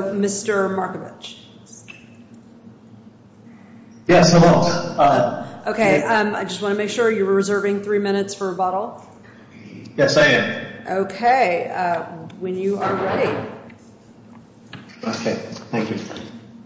So, Mr. Markovitch. Yes, hello. Okay, I just want to make sure you're reserving three minutes for rebuttal. Yes, I am. Okay, when you are ready. Okay, thank you.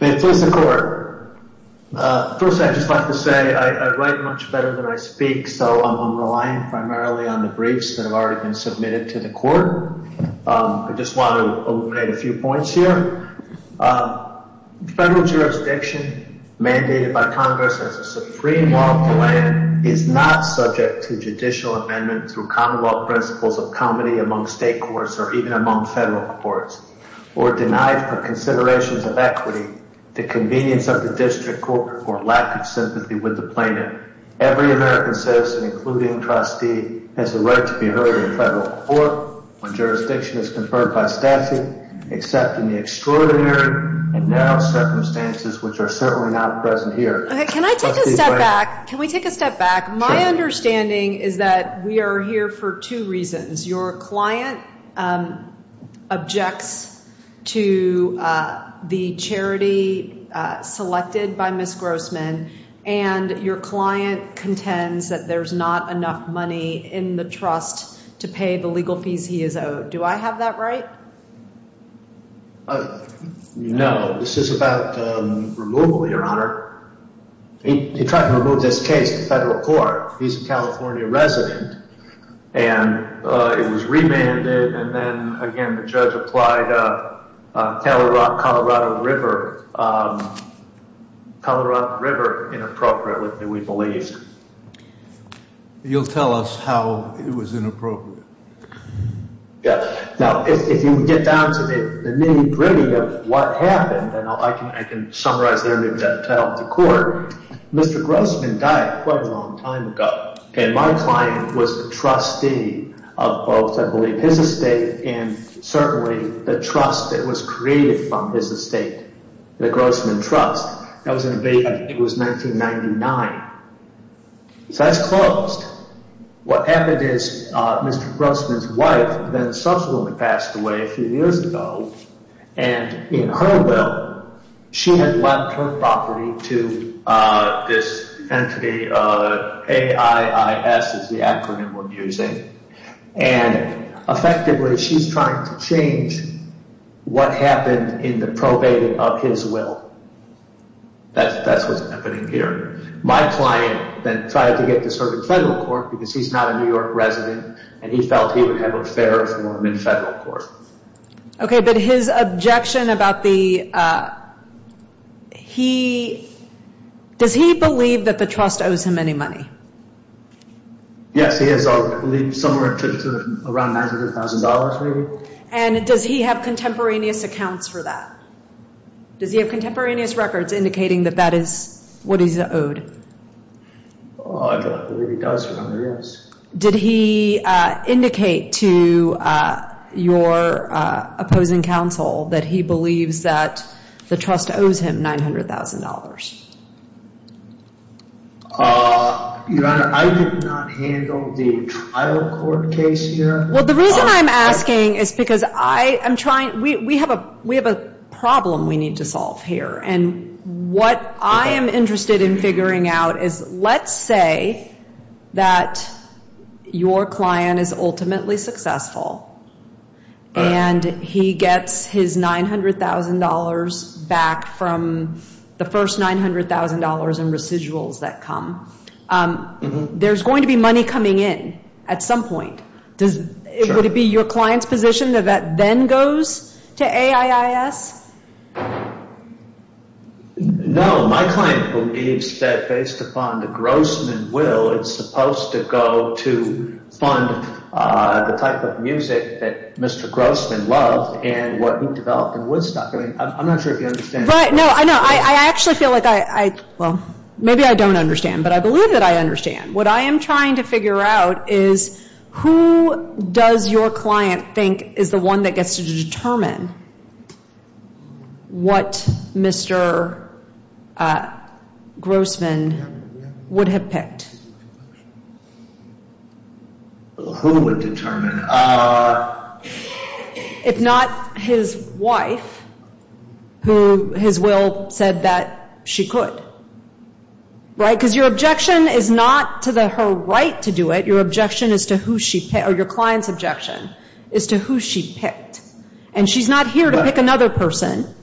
May it please the Court. First, I'd just like to say I write much better than I speak, so I'm relying primarily on the briefs that have already been submitted to the Court. I just want to eliminate a few points here. Federal jurisdiction mandated by Congress as a supreme law of the land is not subject to judicial amendment through commonwealth principles of comity among state courts or even among federal courts, or denied for considerations of equity, the convenience of the district court, or lack of sympathy with the plaintiff. Every American citizen, including trustee, has a right to be heard in federal court when jurisdiction is conferred by statute, except in the extraordinary and narrow circumstances which are certainly not present here. Okay, can I take a step back? Can we take a step back? My understanding is that we are here for two reasons. Your client objects to the charity selected by Ms. Grossman, and your client contends that there's not enough money in the trust to pay the legal fees he is owed. Do I have that right? No, this is about removal, Your Honor. He tried to remove this case to federal court. He's a California resident, and it was remanded, and then, again, the judge applied Colorado River, Colorado River inappropriately, we believe. You'll tell us how it was inappropriate. Yeah, now, if you get down to the nitty-gritty of what happened, and I can summarize there, maybe that'll tell the court. Mr. Grossman died quite a long time ago, and my client was the trustee of both, I believe, his estate and certainly the trust that was created from his estate, the Grossman Trust. That was in, I think it was 1999. So that's closed. What happened is Mr. Grossman's wife then subsequently passed away a few years ago, and in her will, she had left her property to this entity, AIIS is the acronym we're using, and effectively, she's trying to change what happened in the probating of his will. That's what's happening here. My client then tried to get this heard in federal court because he's not a New York resident, and he felt he would have a fairer forum in federal court. Okay, but his objection about the, he, does he believe that the trust owes him any money? Yes, he has, I believe, somewhere to around $900,000, maybe. And does he have contemporaneous accounts for that? Does he have contemporaneous records indicating that that is what he's owed? I don't believe he does, Your Honor, yes. Did he indicate to your opposing counsel that he believes that the trust owes him $900,000? Your Honor, I did not handle the trial court case here. Well, the reason I'm asking is because I am trying, we have a problem we need to solve here, and what I am interested in figuring out is let's say that your client is ultimately successful, and he gets his $900,000 back from the first $900,000 in residuals that come. There's going to be money coming in at some point. Would it be your client's position that that then goes to AIIS? No, my client believes that based upon the Grossman will, it's supposed to go to fund the type of music that Mr. Grossman loved and what he developed in Woodstock. I mean, I'm not sure if you understand. Right, no, I know, I actually feel like I, well, maybe I don't understand, but I believe that I understand. What I am trying to figure out is who does your client think is the one that gets to determine what Mr. Grossman would have picked? Who would determine? If not his wife, who his will said that she could, right? Because your objection is not to her right to do it. Your objection is to who she, or your client's objection is to who she picked. And she's not here to pick another person.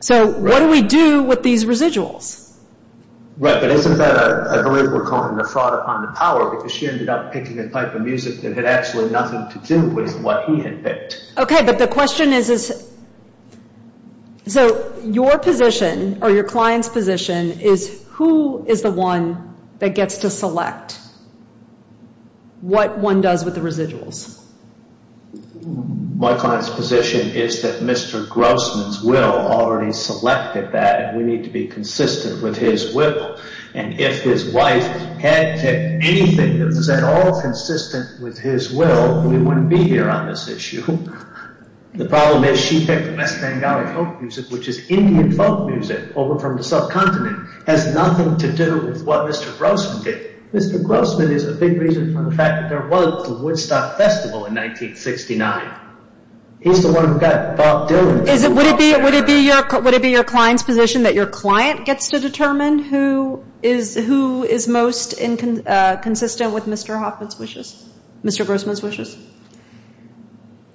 So what do we do with these residuals? Right, but isn't that a group we're calling a fraud upon the power, because she ended up picking a type of music that had actually nothing to do with what he had picked. Okay, but the question is, so your position, or your client's position, is who is the one that gets to select what one does with the residuals? My client's position is that Mr. Grossman's will already selected that, and we need to be consistent with his will. And if his wife had picked anything that was at all consistent with his will, we wouldn't be here on this issue. The problem is she picked West Bengali folk music, which is Indian folk music over from the subcontinent. It has nothing to do with what Mr. Grossman did. Mr. Grossman is a big reason for the fact that there was the Woodstock Festival in 1969. He's the one who got Bob Dylan. Would it be your client's position that your client gets to determine who is most consistent with Mr. Hoffman's wishes, Mr. Grossman's wishes?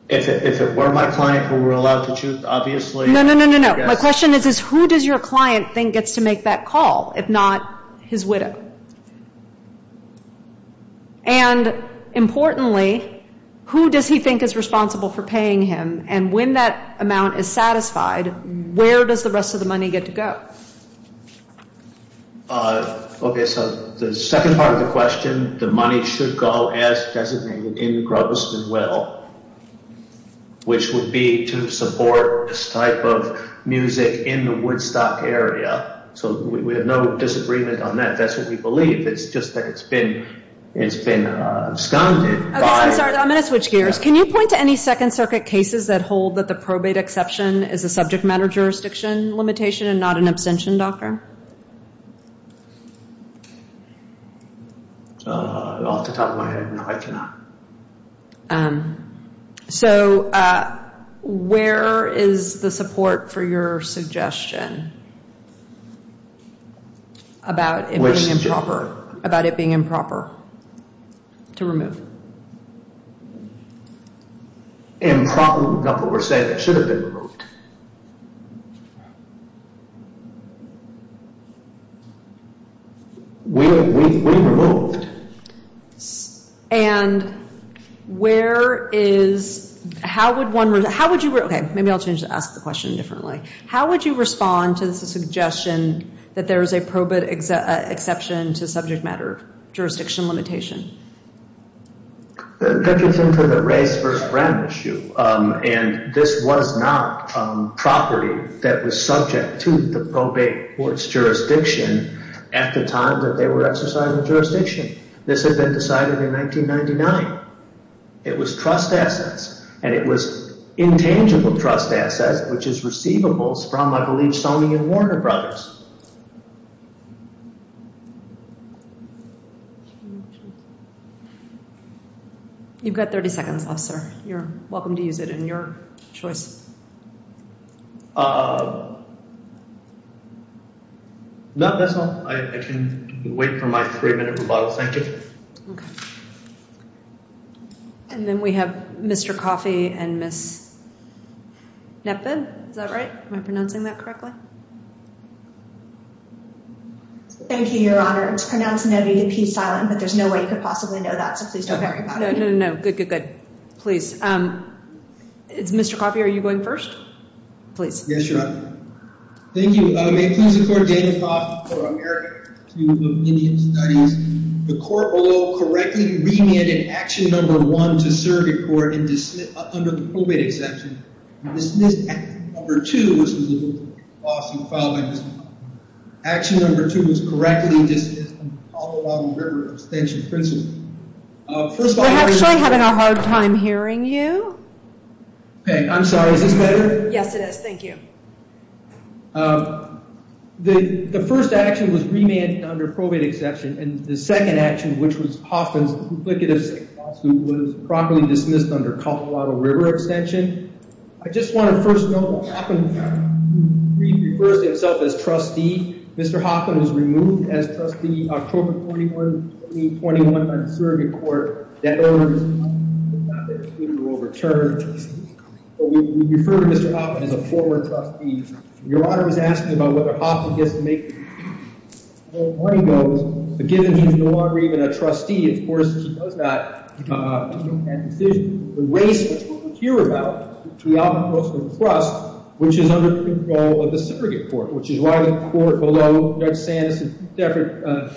If it were my client who were allowed to choose, obviously. No, no, no, no, no. My question is, who does your client think gets to make that call, if not his widow? And importantly, who does he think is responsible for paying him? And when that amount is satisfied, where does the rest of the money get to go? Okay, so the second part of the question, the money should go as designated in the Grossman will, which would be to support this type of music in the Woodstock area. So we have no disagreement on that. That's what we believe. It's just that it's been absconded by— I'm sorry, I'm going to switch gears. Can you point to any Second Circuit cases that hold that the probate exception is a subject matter jurisdiction limitation and not an abstention doctrine? Off the top of my head, no, I cannot. So where is the support for your suggestion about it being improper to remove? Improper, not what we're saying. It should have been removed. We removed. And where is—how would one—okay, maybe I'll ask the question differently. How would you respond to the suggestion that there is a probate exception to subject matter jurisdiction limitation? That gets into the race versus brand issue. And this was not property that was subject to the probate court's jurisdiction at the time that they were exercising the jurisdiction. This had been decided in 1999. It was trust assets, and it was intangible trust assets, which is receivables from, I believe, Sony and Warner Brothers. You've got 30 seconds, officer. You're welcome to use it in your choice. Uh, no, that's all. I can wait for my three-minute rebuttal. Thank you. Okay. And then we have Mr. Coffey and Ms. Knappen. Is that right? Am I pronouncing that correctly? Thank you, Your Honor. It's pronounced N-O-V-E-P silent, but there's no way you could possibly know that, so please don't worry about it. No, no, no. Good, good, good. Please. It's Mr. Coffey. Are you going first? Please. Yes, Your Honor. Thank you. May it please the court, Daniel Coffey, for America, a group of Indian studies. The court, although correctly remanded action number one to serve your court under the probate exception, you dismissed action number two, which was a lawsuit filed by Ms. Knappen. Action number two was correctly dismissed under the Palo Alto River Extension Principle. We're actually having a hard time hearing you. Okay, I'm sorry. Is this better? Yes, it is. Thank you. The first action was remanded under probate exception, and the second action, which was Hoffman's duplicitous lawsuit, was properly dismissed under Palo Alto River Extension. I just want to first note that Hoffman refers to himself as trustee. Mr. Hoffman was removed as trustee October 21, 2021, by the surrogate court. That order was not executed or overturned. But we refer to Mr. Hoffman as a forward trustee. Your Honor was asking about whether Hoffman gets to make those, but given he's no longer even a trustee, of course, he does that. He doesn't have a decision. The race, which we'll hear about, is the Albuquerque Trust, which is under the control of the surrogate court, which is why the court below Judge Sanders and Stafford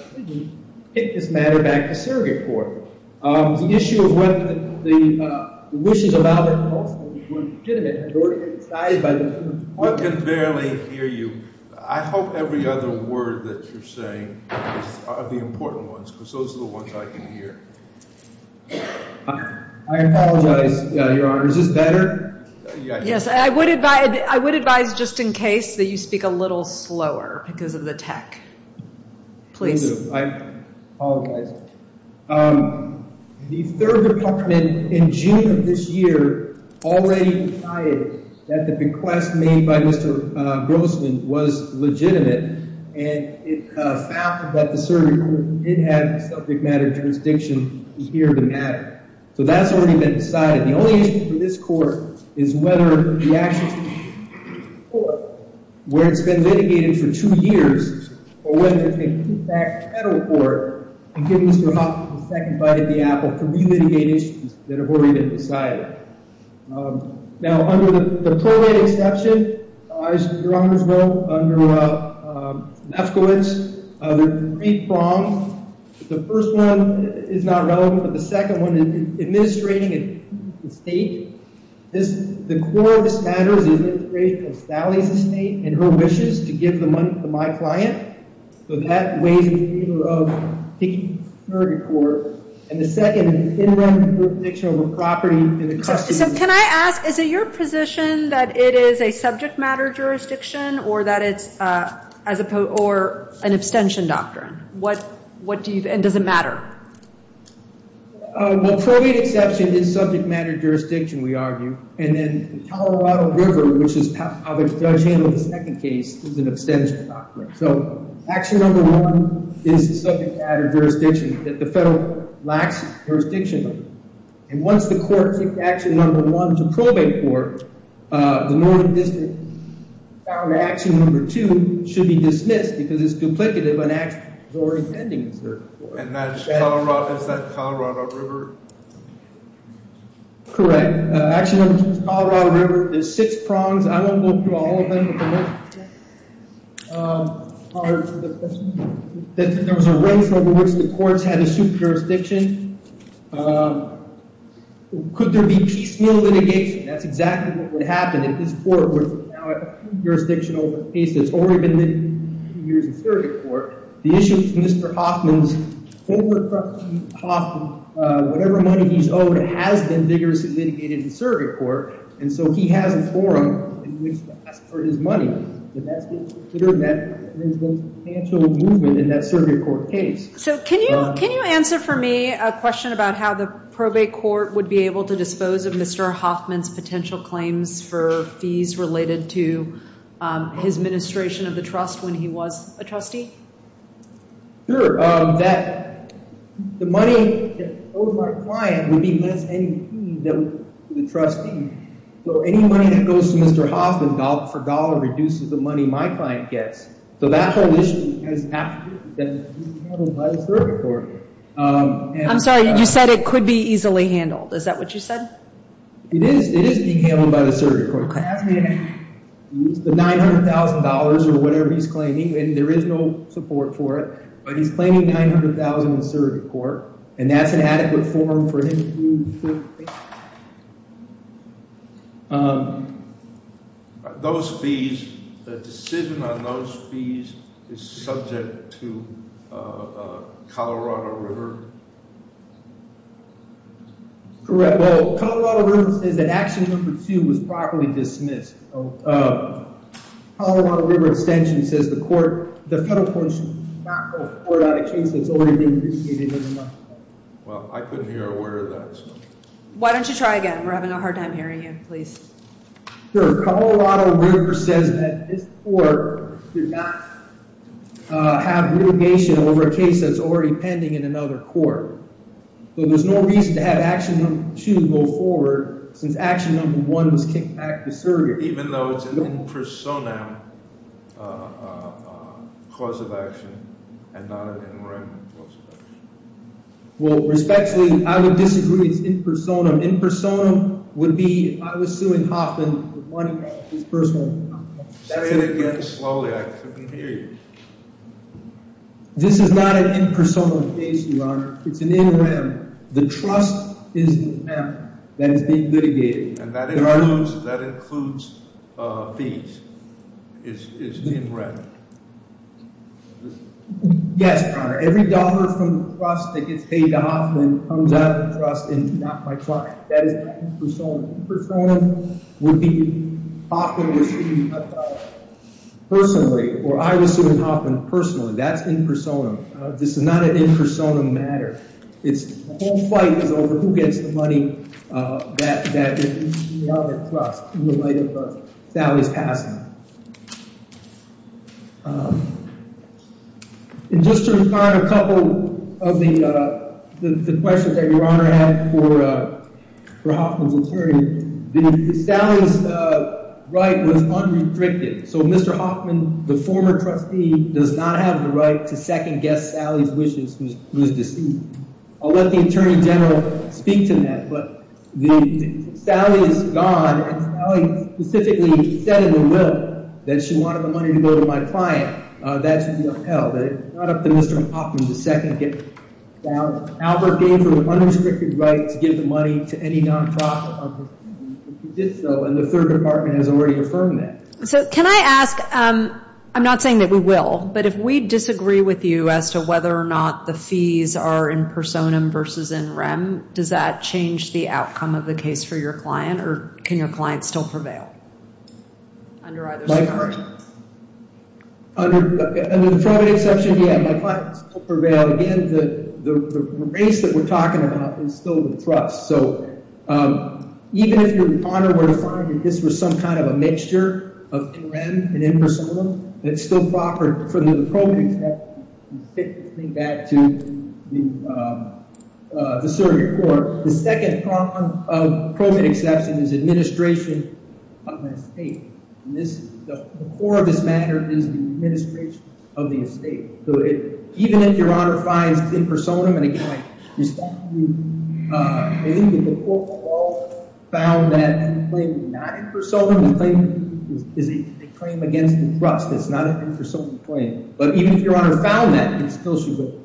picked this matter back to surrogate court. The issue of whether the wishes of Albert Hoffman were legitimate were decided by the… One can barely hear you. I hope every other word that you're saying are the important ones, because those are the ones I can hear. I apologize, Your Honor. Is this better? Yes, I would advise just in case that you speak a little slower because of the tech. Please. I apologize. The third department in June of this year already decided that the bequest made by Mr. Grossman was legitimate, and it found that the surrogate court did have a subject matter jurisdiction here to matter. So that's already been decided. The only issue for this court is whether the actions of the surrogate court, where it's been litigated for two years, or whether it's going to come back to federal court and give Mr. Hoffman a second bite at the apple to re-litigate issues that have already been decided. Now, under the pro-rate exception, as Your Honors wrote, under Lefkowitz, there are three prongs. The first one is not relevant, but the second one is administrating an estate. The core of this matter is the administration of Sally's estate and her wishes to give the money to my client. So that weighs in favor of the surrogate court. And the second is the in-run jurisdiction over property and the custody of the estate. So can I ask, is it your position that it is a subject matter jurisdiction or an abstention doctrine? And does it matter? Well, pro-rate exception is subject matter jurisdiction, we argue. And then Colorado River, which is how the judge handled the second case, is an abstention doctrine. So action number one is the subject matter jurisdiction that the federal lacks jurisdiction. And once the court took action number one to pro-rate court, the Northern District found that action number two should be dismissed because it's duplicative and acts before intending to serve the court. And is that Colorado River? Correct. Action number two is Colorado River. There's six prongs. I won't go through all of them. There was a race over which the courts had to suit jurisdiction. Could there be piecemeal litigation? That's exactly what would happen if this court were to now have jurisdiction over a case that's already been litigated in surrogate court. The issue is Mr. Hoffman's forward property, Hoffman, whatever money he's owed, has been vigorously litigated in surrogate court. And so he has a forum in which to ask for his money. And that's considered that there's been a potential movement in that surrogate court case. So can you answer for me a question about how the probate court would be able to dispose of Mr. Hoffman's potential claims for fees related to his administration of the trust when he was a trustee? Sure. The money that I owe my client would be less any fee than the trustee. So any money that goes to Mr. Hoffman for dollar reduces the money my client gets. So that whole issue has to be handled by the surrogate court. I'm sorry, you said it could be easily handled. Is that what you said? It is being handled by the surrogate court. The $900,000 or whatever he's claiming, and there is no support for it, but he's claiming $900,000 in surrogate court. And that's an adequate forum for him to do certain things. Those fees, the decision on those fees is subject to Colorado River? Correct. Well, Colorado River says that action number two was properly dismissed. Colorado River Extension says the federal court should not hold a court out of case that's already been dismissed. Well, I couldn't hear a word of that. Why don't you try again? We're having a hard time hearing you. Please. Sure. Colorado River says that this court should not have litigation over a case that's already pending in another court. So there's no reason to have action number two go forward since action number one was kicked back to surrogate. Even though it's an in personam cause of action and not an in rem cause of action. Well, respectfully, I would disagree. It's in personam. In personam would be if I was suing Hoffman for money. Say it again slowly. I couldn't hear you. This is not an in personam case, Your Honor. It's an in rem. The trust is in rem that is being litigated. And that includes fees. It's in rem. Yes, Your Honor. Every dollar from the trust that gets paid to Hoffman comes out of the trust and not my trust. That is not in personam. In personam would be if Hoffman was suing Huffman personally or I was suing Hoffman personally. That's in personam. This is not an in personam matter. The whole fight is over who gets the money that is in the light of Sally's passing. Just to respond to a couple of the questions that Your Honor had for Hoffman's attorney, Sally's right was unrestricted. So Mr. Hoffman, the former trustee, does not have the right to second guess Sally's wishes through his deceit. I'll let the Attorney General speak to that. But Sally is gone. Sally specifically said in the will that she wanted the money to go to my client. That should be upheld. It's not up to Mr. Hoffman to second guess Sally's wishes. Albert gave her the unrestricted right to give the money to any non-profit. He did so and the third department has already affirmed that. So can I ask, I'm not saying that we will, but if we disagree with you as to whether or not the fees are in personam versus in rem, does that change the outcome of the case for your client or can your client still prevail? My client still prevails. Again, the race that we're talking about is still the trust. So even if your honor were to find that this was some kind of a mixture of in rem and in personam, it's still proper for the appropriate exception to take this thing back to the circuit court. The second problem of appropriate exception is administration of the estate. The core of this matter is the administration of the estate. Even if your honor finds in personam, and again I respectfully believe that the court found that the claim is not in personam, the claim is a claim against the trust. It's not an in personam claim. But even if your honor found that, it still should be.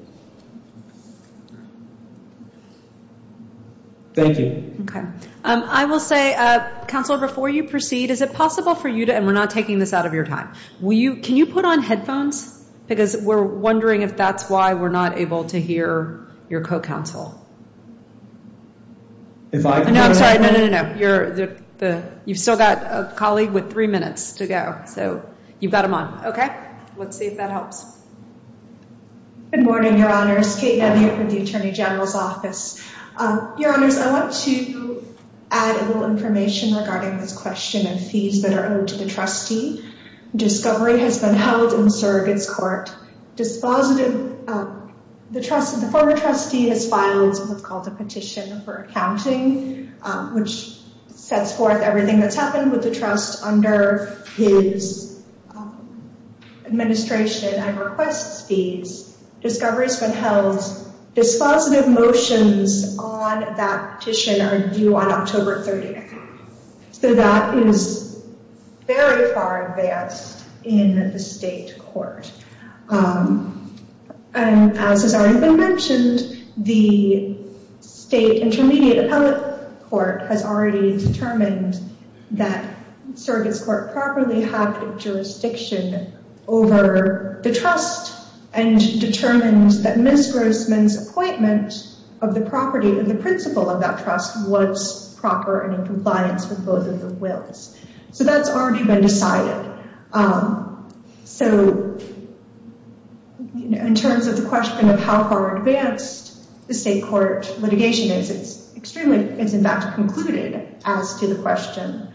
Thank you. Okay. I will say, counsel, before you proceed, is it possible for you to, and we're not taking this out of your time, can you put on headphones? Because we're wondering if that's why we're not able to hear your co-counsel. No, I'm sorry. No, no, no. You've still got a colleague with three minutes to go. So you've got them on. Okay. Let's see if that helps. Good morning, your honors. Kate Dunn here from the Attorney General's office. Your honors, I want to add a little information regarding this question of fees that are owed to the trustee. Discovery has been held in surrogate's court. The former trustee has filed what's called a petition for accounting, which sets forth everything that's happened with the trust under his administration. I request fees. Discovery has been held. Dispositive motions on that petition are due on October 30th. So that is very far advanced in the state court. And as has already been mentioned, the state intermediate appellate court has already determined that surrogate's court properly had jurisdiction over the trust and determined that Ms. Grossman's appointment of the property, the principle of that trust was proper and in compliance with both of the wills. So that's already been decided. So in terms of the question of how far advanced the state court litigation is, it's extremely, it's in fact concluded as to the question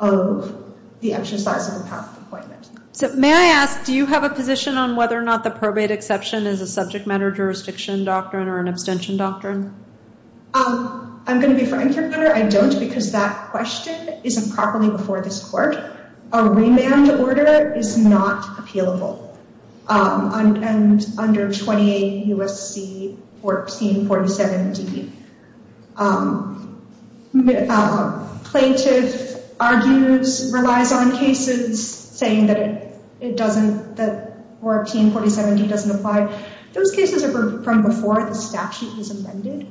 of the exercise of the path of appointment. So may I ask, do you have a position on whether or not the probate exception is a subject matter jurisdiction doctrine or an abstention doctrine? I'm going to be frank here. I don't because that question isn't properly before this court. A remand order is not appealable under 28 U.S.C. 1447d. Plaintiff argues, relies on cases saying that it doesn't, that 1447d doesn't apply. Those cases are from before the statute was amended.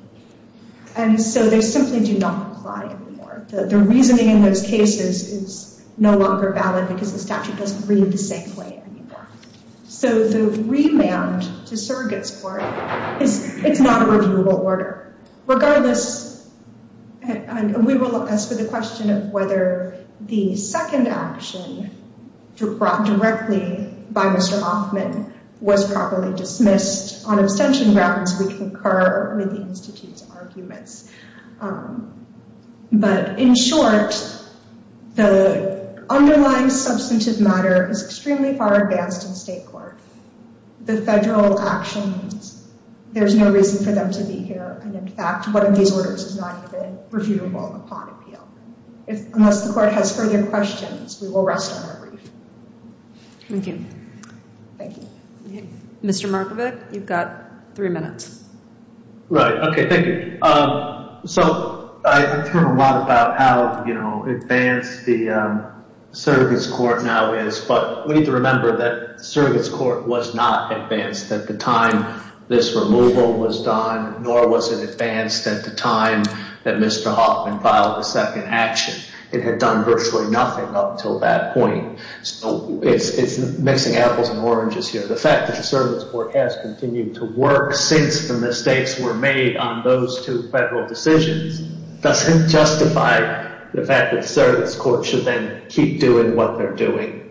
And so they simply do not apply anymore. The reasoning in those cases is no longer valid because the statute doesn't read the same way anymore. So the remand to surrogate's court, it's not a reviewable order. Regardless, and we will ask for the question of whether the second action brought directly by Mr. Hoffman was properly dismissed on abstention grounds. We concur with the institute's arguments. But in short, the underlying substantive matter is extremely far advanced in state court. The federal actions, there's no reason for them to be here. And in fact, one of these orders is not even reviewable upon appeal. Unless the court has further questions, we will rest on our brief. Thank you. Mr. Markovic, you've got three minutes. Right, okay, thank you. So I've heard a lot about how advanced the surrogate's court now is. But we need to remember that surrogate's court was not advanced at the time this removal was done, nor was it advanced at the time that Mr. Hoffman filed the second action. It had done virtually nothing up until that point. So it's mixing apples and oranges here. The fact that the surrogate's court has continued to work since the mistakes were made on those two federal decisions doesn't justify the fact that surrogate's court should then keep doing what they're doing.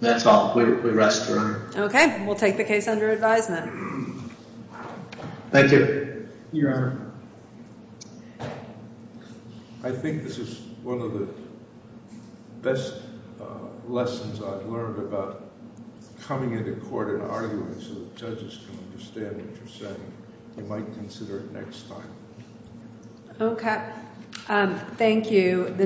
That's all. We rest, Your Honor. Okay, we'll take the case under advisement. Thank you. Your Honor. I think this is one of the best lessons I've learned about coming into court and arguing so the judges can understand what you're saying. They might consider it next time. Okay, thank you.